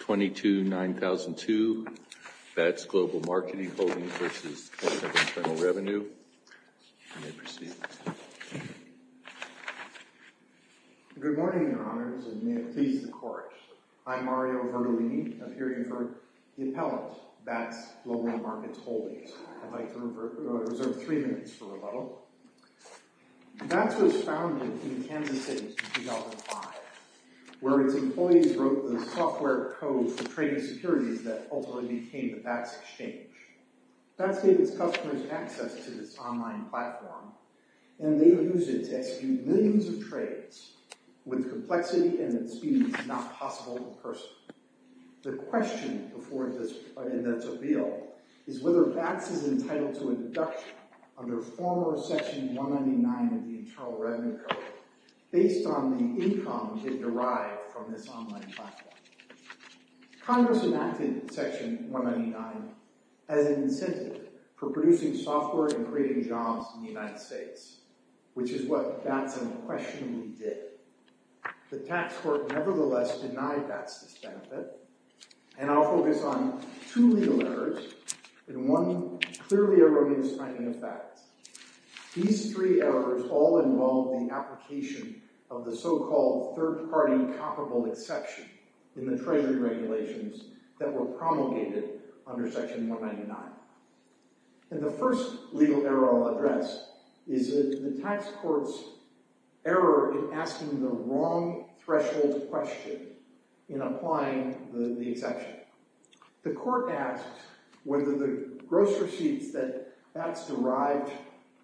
22-9002, Bats Global Marketing Holdings v. Center for Internal Revenue. You may proceed. Good morning, Your Honors, and may it please the Court. I'm Mario Vertolini, appearing for the Appellant, Bats Global Markets Holdings. Bats was founded in Kansas City in 2005, where its employees wrote the software code for trading securities that ultimately became the BATS Exchange. BATS gave its customers access to this online platform, and they use it to execute millions of trades, with complexity and at speeds not possible in person. The question before this bill is whether BATS is entitled to induction under former Section 199 of the Internal Revenue Code, based on the income it derived from this online platform. Congress enacted Section 199 as an incentive for producing software and creating jobs in the United States, which is what BATS unquestionably did. The tax court nevertheless denied BATS this benefit, and I'll focus on two legal errors, and one clearly erroneous finding of BATS. These three errors all involve the application of the so-called third-party comparable exception in the Treasury regulations that were promulgated under Section 199. And the first legal error I'll address is the tax court's error in asking the wrong threshold question in applying the exception. The court asked whether the gross receipts that BATS derived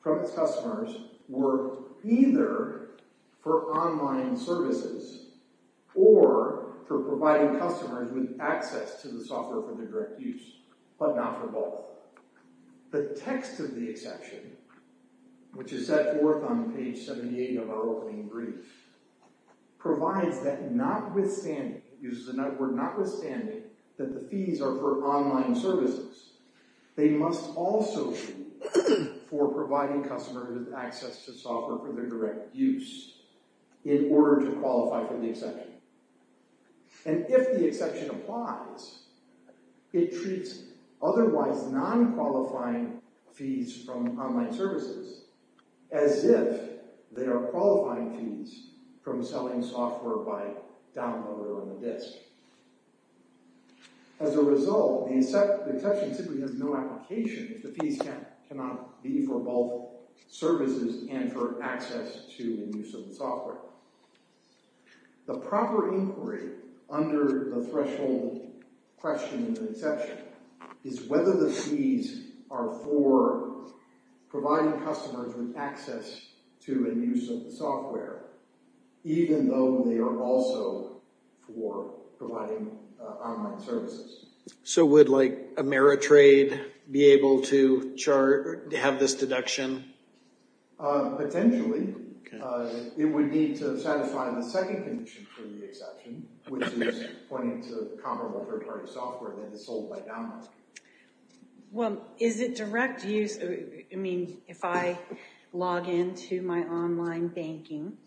from its customers were either for online services or for providing customers with access to the software for their direct use, but not for both. The text of the exception, which is set forth on page 78 of our opening brief, provides that notwithstanding, it uses the word notwithstanding, that the fees are for online services, they must also be for providing customers with access to software for their direct use in order to qualify for the exception. And if the exception applies, it treats otherwise non-qualifying fees from online services as if they are qualifying fees from selling software by downloader on the disk. As a result, the exception simply has no application if the fees cannot be for both services and for access to and use of the software. The proper inquiry under the threshold question in the exception is whether the fees are for providing customers with access to and use of the software, even though they are also for providing online services. So would, like, Ameritrade be able to have this deduction? Potentially. It would need to satisfy the second condition for the exception, which is pointing to comparable third-party software that is sold by download. Well, is it direct use? I mean, if I log into my online banking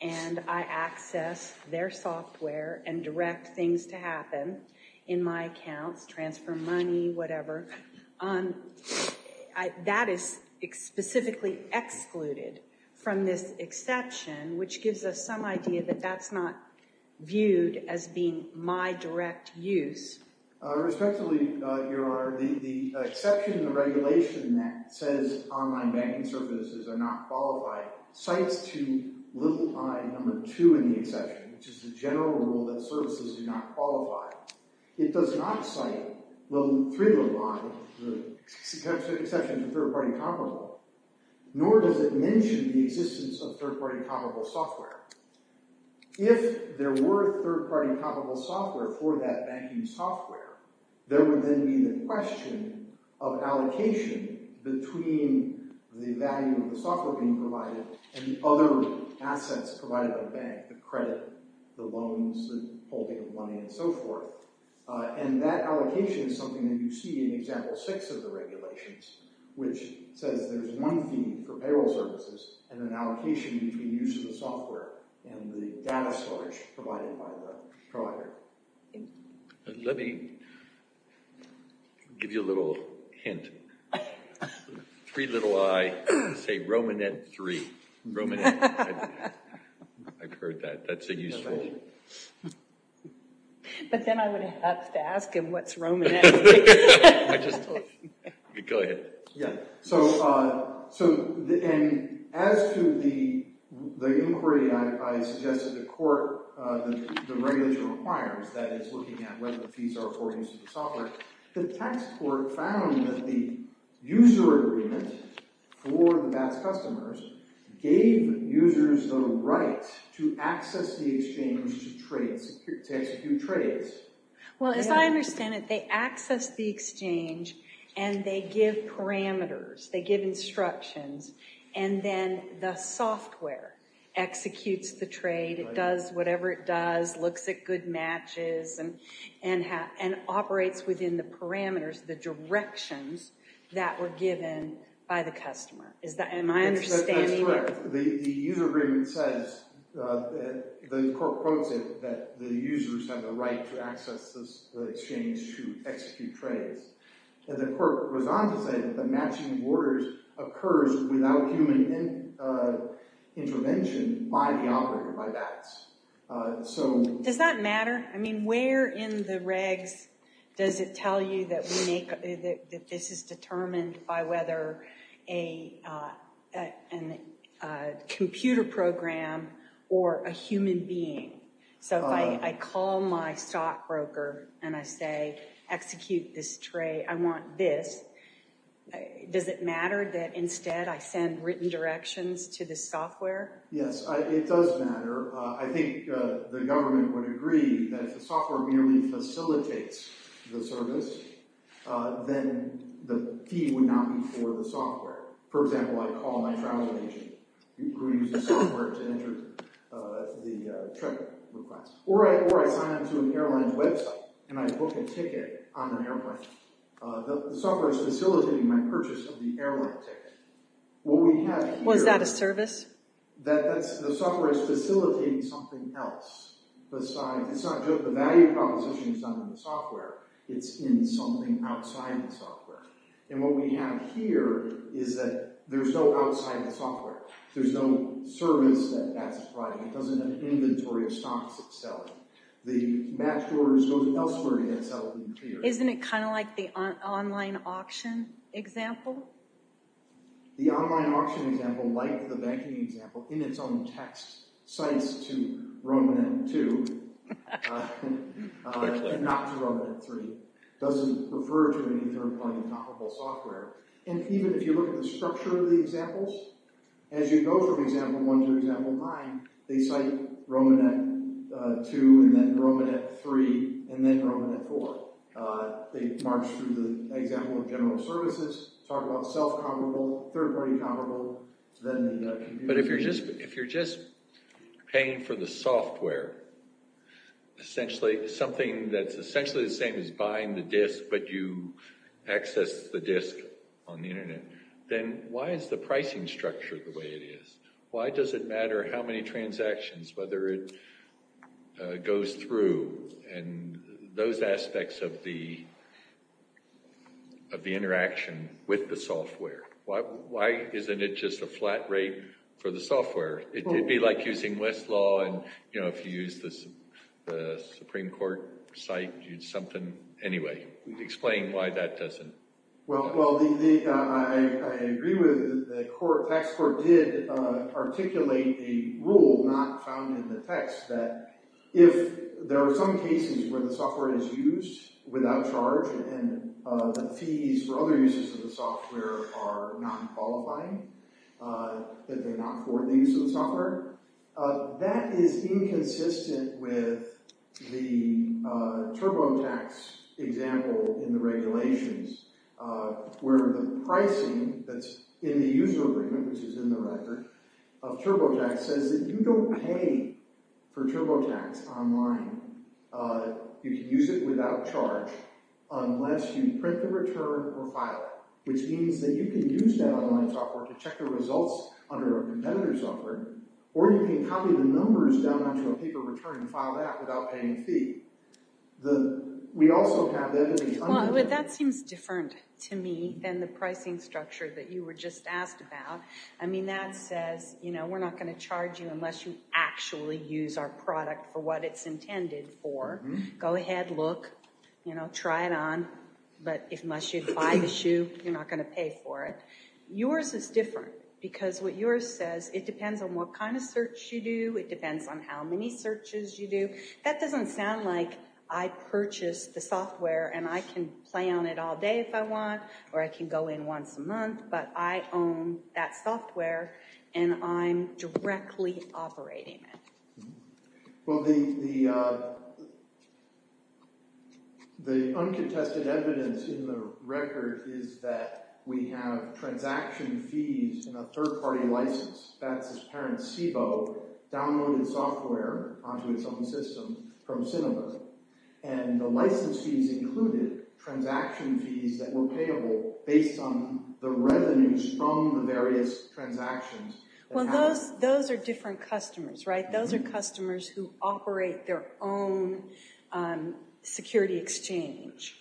and I access their software and direct things to happen in my accounts, transfer money, whatever, that is specifically excluded from this exception, which gives us some idea that that's not viewed as being my direct use. Respectively, Your Honor, the exception, the regulation that says online banking services are not qualified cites to little i, number two in the exception, which is the general rule that services do not qualify. It does not cite little i, the exception to third-party comparable, nor does it mention the existence of third-party comparable software. If there were third-party comparable software for that banking software, there would then be the question of allocation between the value of the software being provided and the other assets provided by the bank, the credit, the loans, the holding of money, and so forth. And that allocation is something that you see in example six of the regulations, which says there's one fee for payroll services and an allocation between use of the software and the data storage provided by the provider. Let me give you a little hint. Three little i, say Romanet 3. Romanet. I've heard that. That's a useful name. But then I would have to ask him what's Romanet. I just told you. Go ahead. As to the inquiry, I suggested the court, the regulation requires that it's looking at whether the fees are for use of the software. The tax court found that the user agreement for the BATS customers gave users the right to access the exchange to trade, to execute trades. Well, as I understand it, they access the exchange, and they give parameters, they give instructions, and then the software executes the trade. It does whatever it does, looks at good matches, and operates within the parameters, the directions that were given by the customer. Am I understanding you? That's correct. The user agreement says, the court quotes it, that the users have the right to access the exchange to execute trades. And the court goes on to say that the matching of orders occurs without human intervention by the operator, by BATS. Does that matter? I mean, where in the regs does it tell you that this is determined by whether a computer program or a human being? So if I call my stockbroker and I say, execute this trade, I want this, does it matter that instead I send written directions to the software? Yes, it does matter. I think the government would agree that if the software merely facilitates the service, then the fee would not be for the software. For example, I call my travel agent who uses software to enter the trip request. Or I sign up to an airline's website and I book a ticket on an airplane. The software is facilitating my purchase of the airline ticket. Was that a service? The software is facilitating something else. The value proposition is not in the software. It's in something outside the software. And what we have here is that there's no outside the software. There's no service that BATS is providing. It doesn't have inventory of stocks it's selling. The matched orders go elsewhere. Isn't it kind of like the online auction example? The online auction example, like the banking example, in its own text cites to Romanet 2 and not to Romanet 3. It doesn't refer to any third-party comparable software. And even if you look at the structure of the examples, as you go from example 1 to example 9, they cite Romanet 2 and then Romanet 3 and then Romanet 4. They march through the example of general services, talk about self-comparable, third-party comparable, But if you're just paying for the software, something that's essentially the same as buying the disk, but you access the disk on the Internet, then why is the pricing structure the way it is? Why does it matter how many transactions, whether it goes through, and those aspects of the interaction with the software? Why isn't it just a flat rate for the software? It would be like using Westlaw, and if you use the Supreme Court site, use something. Anyway, explain why that doesn't. Well, I agree with the court. Tax court did articulate a rule not found in the text that if there are some cases where the software is used without charge and the fees for other uses of the software are non-qualifying, that they're not for these software, that is inconsistent with the TurboTax example in the regulations, where the pricing that's in the user agreement, which is in the record, of TurboTax, says that you don't pay for TurboTax online. You can use it without charge unless you print the return or file it, which means that you can use that online software to check the results under a competitor's offer, or you can copy the numbers down onto a paper return and file that without paying a fee. We also have that in the... Well, that seems different to me than the pricing structure that you were just asked about. I mean, that says, you know, we're not going to charge you unless you actually use our product for what it's intended for. Go ahead, look, you know, try it on, but unless you buy the shoe, you're not going to pay for it. Yours is different, because what yours says, it depends on what kind of search you do, it depends on how many searches you do. That doesn't sound like I purchased the software and I can play on it all day if I want or I can go in once a month, but I own that software and I'm directly operating it. Well, the uncontested evidence in the record is that we have transaction fees in a third-party license. That's as parent SIBO downloaded software onto its own system from Cinema, and the license fees included transaction fees that were payable based on the revenues from the various transactions. Well, those are different customers, right? Those are customers who operate their own security exchange.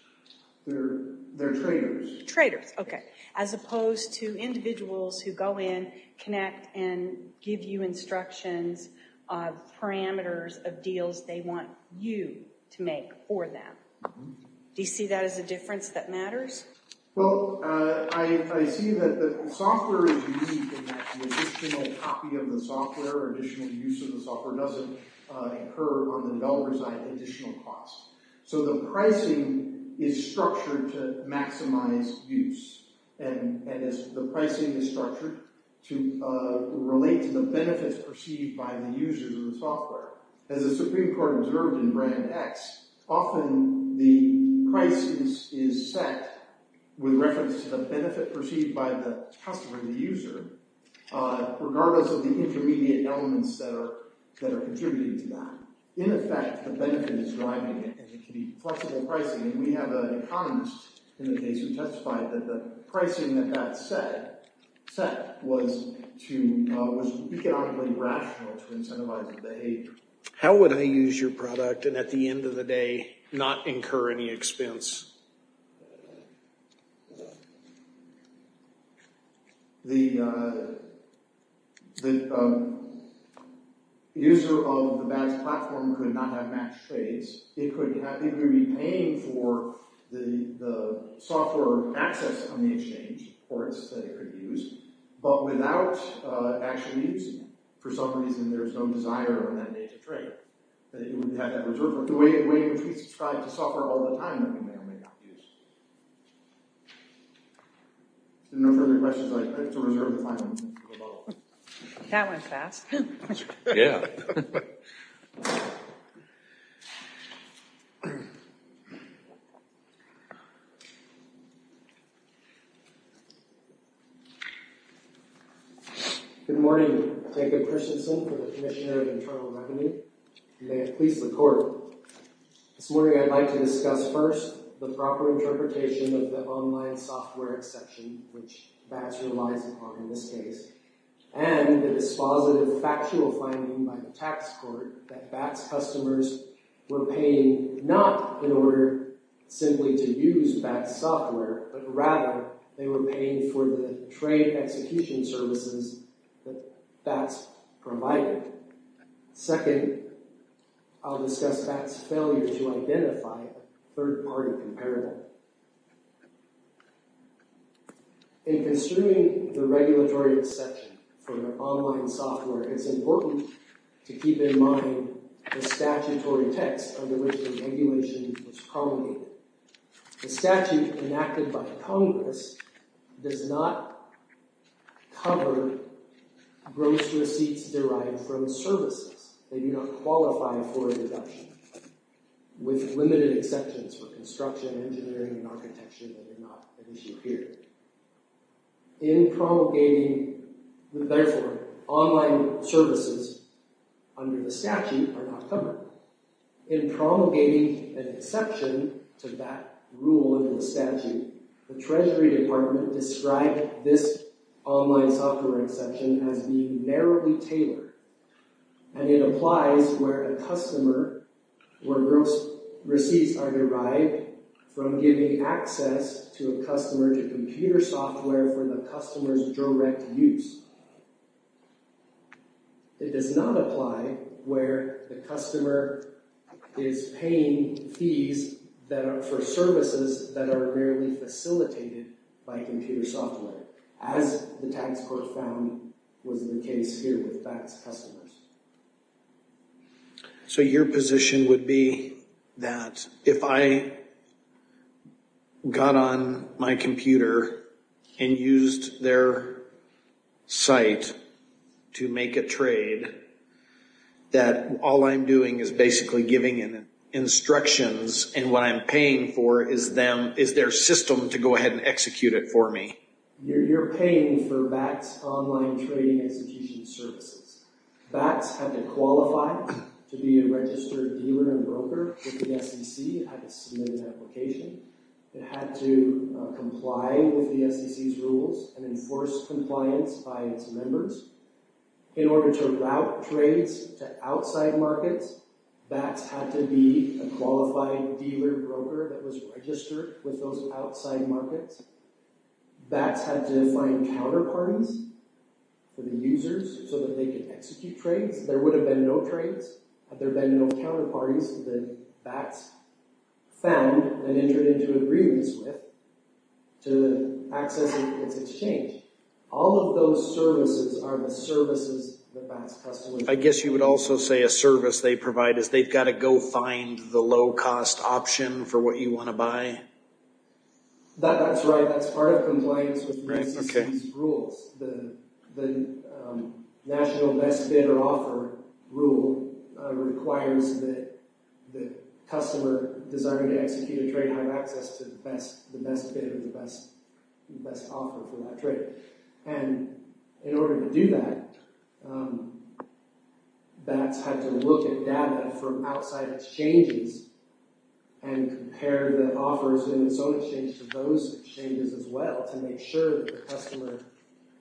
They're traders. Traders, okay. As opposed to individuals who go in, connect, and give you instructions, parameters of deals they want you to make for them. Do you see that as a difference that matters? Well, I see that the software is unique in that the additional copy of the software or additional use of the software doesn't occur on the developer's side at additional cost. So the pricing is structured to maximize use, and the pricing is structured to relate to the benefits perceived by the users of the software. As the Supreme Court observed in Brand X, often the price is set with reference to the benefit perceived by the customer, the user, regardless of the intermediate elements that are contributing to that. In effect, the benefit is driving it, and it can be flexible pricing. And we have an economist in the case who testified that the pricing that that set was economically rational to incentivize the behavior. How would I use your product and at the end of the day not incur any expense? The user of the badge platform could not have match trades. It could happily be paying for the software access on the exchange, or it's that it could use, but without actually using it. For some reason, there's no desire on that day to trade. It wouldn't have that reserve. The way in which we subscribe to software all the time we may or may not use. No further questions. I have to reserve the final one. That went fast. Yeah. Good morning. Jacob Christensen for the Commissioner of Internal Revenue. May it please the Court. This morning I'd like to discuss first the proper interpretation of the online software exception, which BATS relies upon in this case, and the dispositive factual finding by the tax court that BATS customers were paying not in order simply to use BATS software, but rather they were paying for the trade execution services that BATS provided. Second, I'll discuss BATS' failure to identify a third party comparable. In considering the regulatory exception for online software, it's important to keep in mind the statutory text under which the regulation was promulgated. The statute enacted by Congress does not cover gross receipts derived from services that do not qualify for a deduction, with limited exceptions for construction, engineering, and architecture that are not an issue here. In promulgating, therefore, online services under the statute are not covered. Thirdly, the Treasury Department described this online software exception as being narrowly tailored, and it applies where gross receipts are derived from giving access to a customer to computer software for the customer's direct use. It does not apply where the customer is paying fees for services that are merely facilitated by computer software, as the tax court found was the case here with BATS customers. So your position would be that if I got on my computer and used their site to make a trade, that all I'm doing is basically giving instructions and what I'm paying for is their system to go ahead and execute it for me? You're paying for BATS online trading execution services. BATS had to qualify to be a registered dealer and broker with the SEC. It had to submit an application. It had to comply with the SEC's rules and enforce compliance by its members. In order to route trades to outside markets, BATS had to be a qualified dealer and broker that was registered with those outside markets. BATS had to find counterparties for the users so that they could execute trades. There would have been no trades had there been no counterparties that BATS found and entered into agreements with to access its exchange. All of those services are the services that BATS customers need. I guess you would also say a service they provide is they've got to go find the low-cost option for what you want to buy? That's right. That's part of compliance with the SEC's rules. The National Best Bidder Offer rule requires that the customer desiring to execute a trade have access to the best bidder, the best offer for that trade. In order to do that, BATS had to look at data from outside exchanges and compare the offers in its own exchange to those exchanges as well to make sure that the customer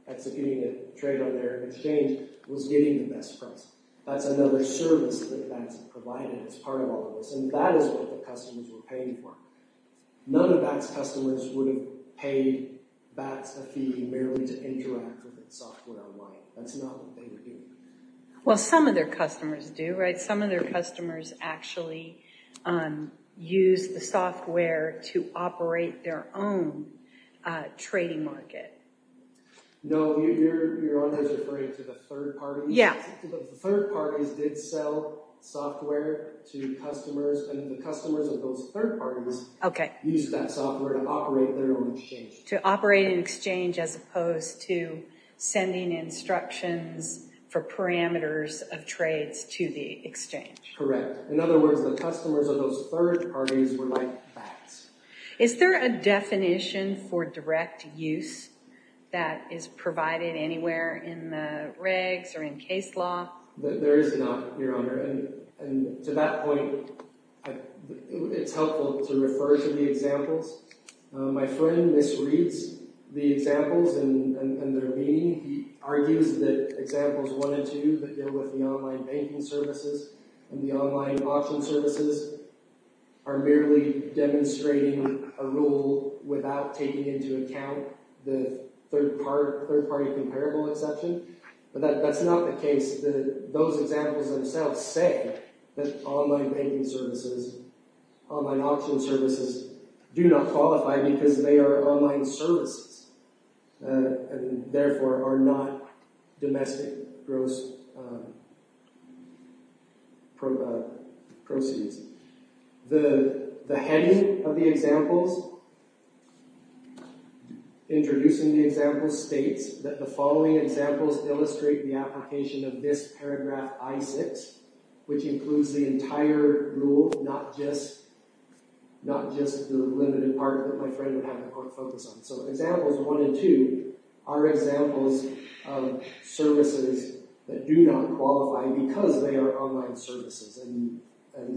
executing a trade on their exchange was getting the best price. That's another service that BATS provided as part of all of this, and that is what the customers were paying for. None of BATS customers would have paid BATS a fee merely to interact with the software online. That's not what they would do. Well, some of their customers do, right? Some of their customers actually use the software to operate their own trading market. No, you're only referring to the third parties? Yeah. The third parties did sell software to customers, and the customers of those third parties used that software to operate their own exchange. To operate an exchange as opposed to sending instructions for parameters of trades to the exchange. Correct. In other words, the customers of those third parties were like BATS. Is there a definition for direct use that is provided anywhere in the regs or in case law? There is not, Your Honor, and to that point, it's helpful to refer to the examples. My friend misreads the examples and their meaning. He argues that examples one and two that deal with the online banking services and the online auction services are merely demonstrating a rule without taking into account the third party comparable exception, but that's not the case. Those examples themselves say that online banking services, online auction services do not qualify because they are online services and therefore are not domestic gross proceeds. The heading of the examples introducing the examples states that the following examples illustrate the application of this paragraph I6 which includes the entire rule, not just the limited part that my friend would have to focus on. So examples one and two are examples of services that do not qualify because they are online services and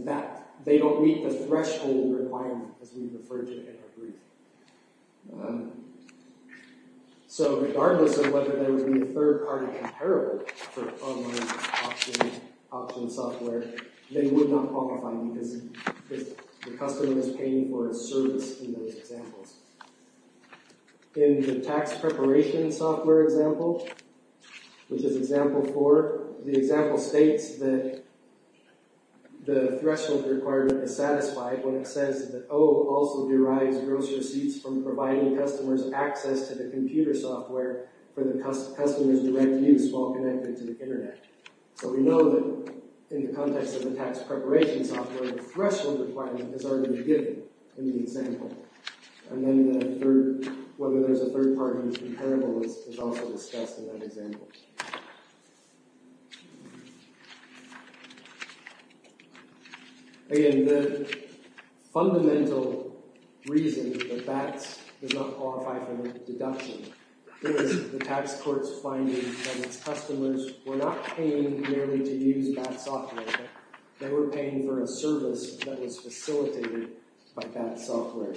that they don't meet the threshold requirement as we've referred to in our brief. So regardless of whether there would be a third party comparable for online auction software, they would not qualify because the customer is paying for a service in those examples. In the tax preparation software example, which is example four, the example states that the threshold requirement is satisfied when it says that O also derives gross receipts from providing customers access to the computer software for the customer's direct use while connected to the internet. So we know that in the context of the tax preparation software, the threshold requirement is already given in the example. And then the third, whether there's a third party comparable is also discussed in that example. Again, the fundamental reason that BATS does not qualify for the deduction is the tax court's finding that its customers were not paying merely to use BATS software. They were paying for a service that was facilitated by BATS software.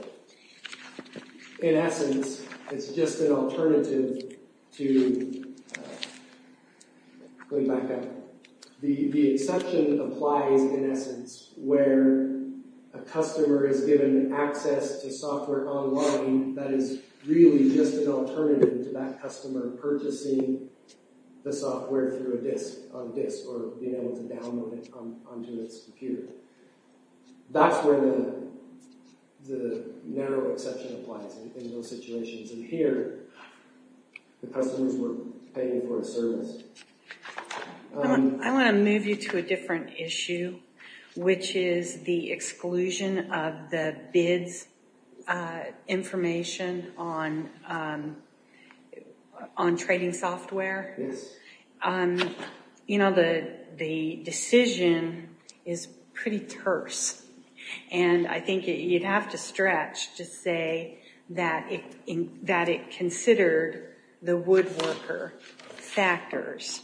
In essence, it's just an alternative to, going back up, the exception applies in essence where a customer is given access to software online that is really just an alternative to that customer purchasing the software through a disk, or being able to download it onto its computer. That's where the narrow exception applies in those situations. And here, the customers were paying for a service. I want to move you to a different issue, which is the exclusion of the bids information on trading software. You know, the decision is pretty terse. And I think you'd have to stretch to say that it considered the woodworker factors.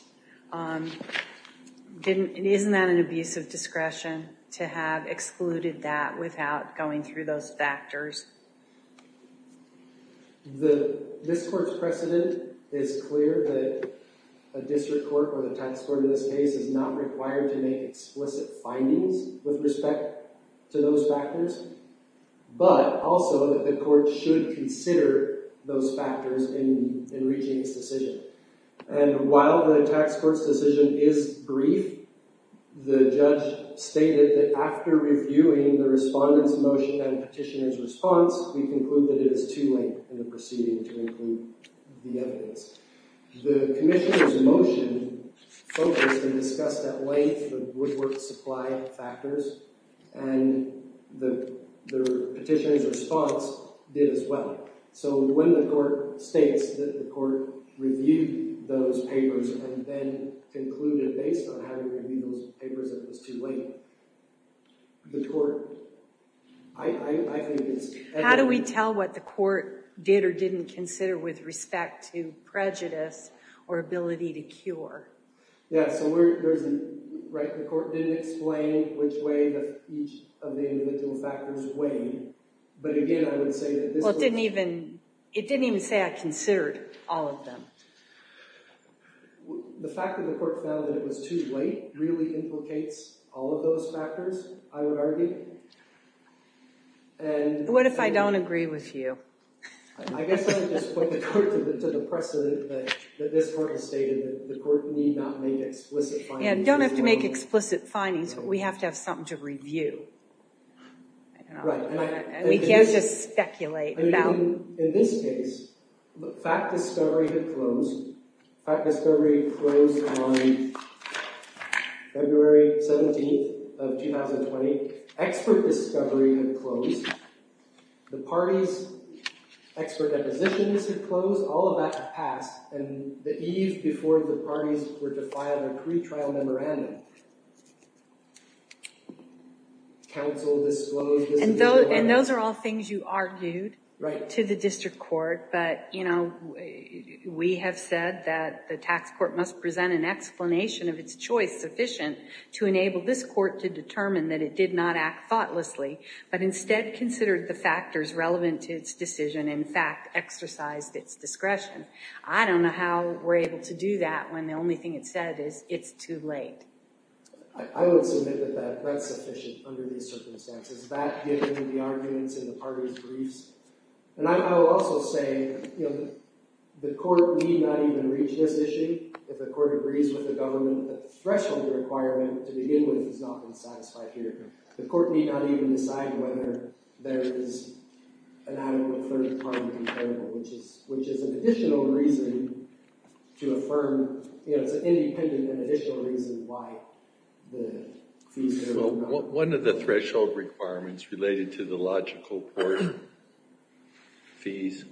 Isn't that an abuse of discretion to have excluded that without going through those factors? This court's precedent is clear that a district court or the tax court in this case is not required to make explicit findings with respect to those factors, but also that the court should consider those factors in reaching its decision. And while the tax court's decision is brief, the judge stated that after reviewing the respondent's motion and petitioner's response, we conclude that it is too late in the proceeding to include the evidence. The commissioner's motion focused and discussed at length the woodwork supply factors, and the petitioner's response did as well. So when the court states that the court reviewed those papers and then concluded, based on having reviewed those papers, that it was too late, the court... I think it's... How do we tell what the court did or didn't consider with respect to prejudice or ability to cure? Yeah, so we're... The court didn't explain which way each of the individual factors weighed, but again, I would say that this... Well, it didn't even say I considered all of them. The fact that the court found that it was too late really implicates all of those factors, I would argue. What if I don't agree with you? I guess I would just point the court to the precedent that this court has stated that the court need not make explicit findings... Yeah, don't have to make explicit findings, but we have to have something to review. Right, and I... We can't just speculate about... In this case, fact discovery had closed. Fact discovery closed on February 17th of 2020. Expert discovery had closed. The party's expert depositions had closed. All of that had passed, and the eve before the parties were to file a pretrial memorandum, counsel disclosed... And those are all things you argued to the district court, but we have said that the tax court must present an explanation of its choice sufficient to enable this court to determine that it did not act thoughtlessly, but instead considered the factors relevant to its decision and, in fact, exercised its discretion. I don't know how we're able to do that when the only thing it said is, it's too late. I would submit that that's sufficient under these circumstances. That, given the arguments in the parties' briefs. And I will also say, you know, the court need not even reach this issue if the court agrees with the government that the threshold requirement to begin with has not been satisfied here. The court need not even decide whether there is an adequate third party variable, which is an additional reason to affirm, you know, it's an independent and additional reason why the fees... One of the threshold requirements related to the logical port fees,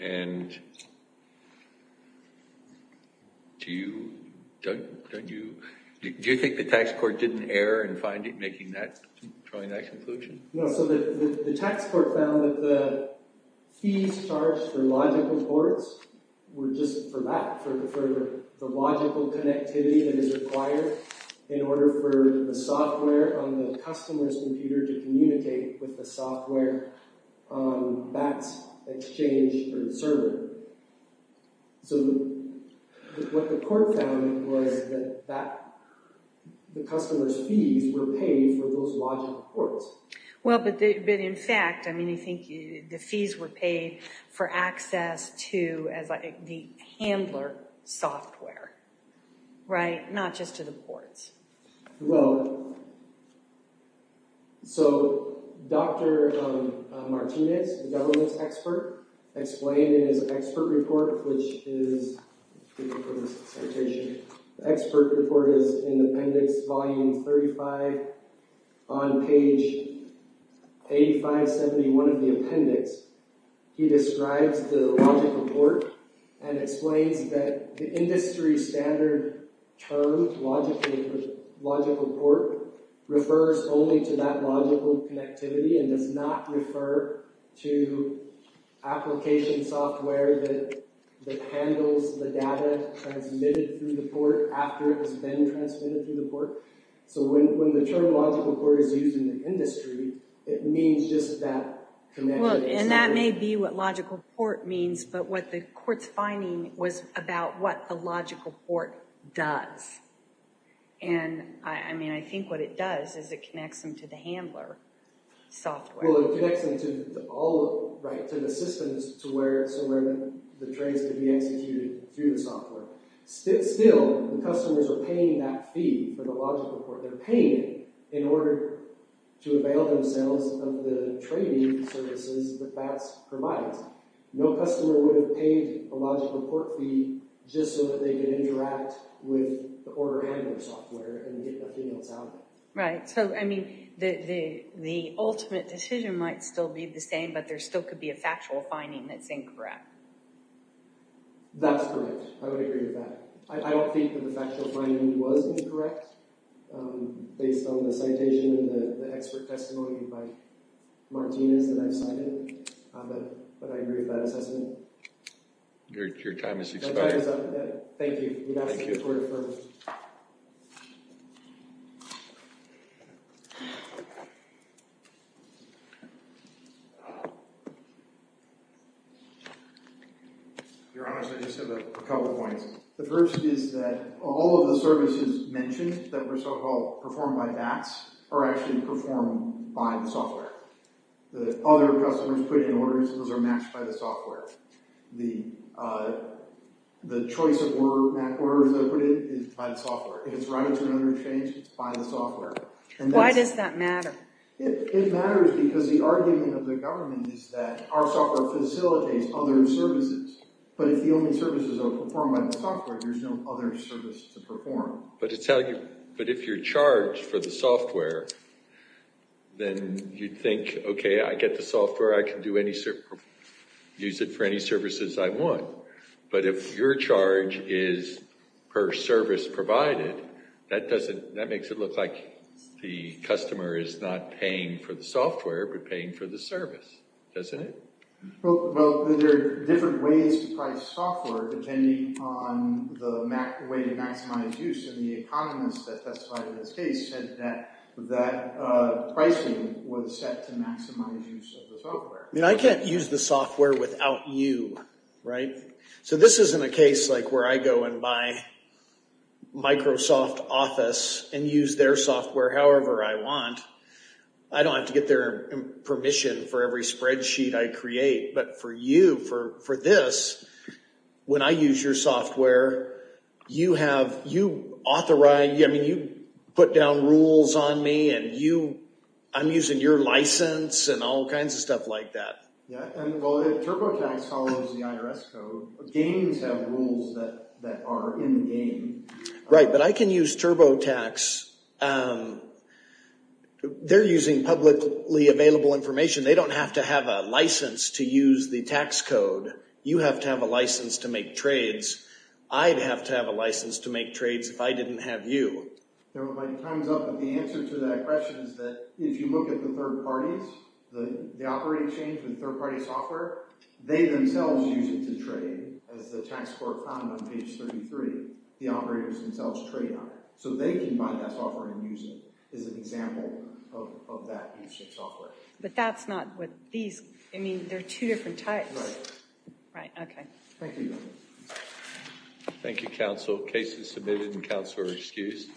and do you... Don't you... Do you think the tax court did an error in finding... Making that... Drawing that conclusion? No, so the tax court found that the fees charged for logical ports were just for that, for the logical connectivity that is required in order for the software on the customer's computer to communicate with the software on BAT's exchange or server. So what the court found was that the customer's fees were paid for those logical ports. Well, but in fact, I mean, I think the fees were paid for access to the handler software, right? Not just to the ports. Well, so Dr. Martinez, the government's expert, explained in his expert report, which is... I'm looking for this citation. The expert report is in appendix volume 35 on page 8571 of the appendix. He describes the logical port and explains that the industry standard term logical port refers only to that logical connectivity and does not refer to application software that handles the data transmitted through the port after it has been transmitted through the port. So when the term logical port is used in the industry, it means just that... Well, and that may be what logical port means, but what the court's finding was about what the logical port does. And, I mean, I think what it does is it connects them to the handler software. Well, it connects them to all, right, to the systems to where the trace could be executed through the software. Still, the customers are paying that fee for the logical port. They're paying it in order to avail themselves of the trading services that that provides. No customer would have paid a logical port fee just so that they could interact with the order handler software and get their emails out. Right. So, I mean, the ultimate decision might still be the same, but there still could be a factual finding that's incorrect. That's correct. I would agree with that. I don't think that the factual finding was incorrect based on the citation and the expert testimony by Martinez that I've cited, but I agree with that assessment. Your time has expired. Thank you. We'd have to take a quarter further. Your Honor, I just have a couple of points. The first is that all of the services mentioned that were so-called performed by VATS are actually performed by the software. The other customers put in orders, those are matched by the software. The choice of orders that are put in is by the software. If it's routed to another exchange, it's by the software. Why does that matter? It matters because the argument of the government is that our software facilitates other services, but if the only services are performed by the software, there's no other service to perform. But if you're charged for the software, then you'd think, okay, I get the software, I can use it for any services I want, but if your charge is per service provided, that makes it look like the customer is not paying for the software, but paying for the service, doesn't it? Well, there are different ways to price software depending on the way to maximize use, and the economist that testified in this case said that pricing was set to maximize use of the software. I mean, I can't use the software without you, right? So this isn't a case like where I go and buy Microsoft Office and use their software however I want. I don't have to get their permission for every spreadsheet I create, but for you, for this, when I use your software, you authorize, I mean, you put down rules on me, and I'm using your license and all kinds of stuff like that. Yeah, and well, if TurboTax follows the IRS code, games have rules that are in the game. Right, but I can use TurboTax. They're using publicly available information. They don't have to have a license to use the tax code. You have to have a license to make trades. I'd have to have a license to make trades if I didn't have you. Time's up, but the answer to that question is that if you look at the third parties, the operating chain for the third-party software, they themselves use it to trade. As the tax court found on page 33, the operators themselves trade on it. So they can buy that software and use it as an example of that E6 software. But that's not what these, I mean, they're two different types. Right. Right, okay. Thank you. Thank you, counsel. Case is submitted, and counsel are excused.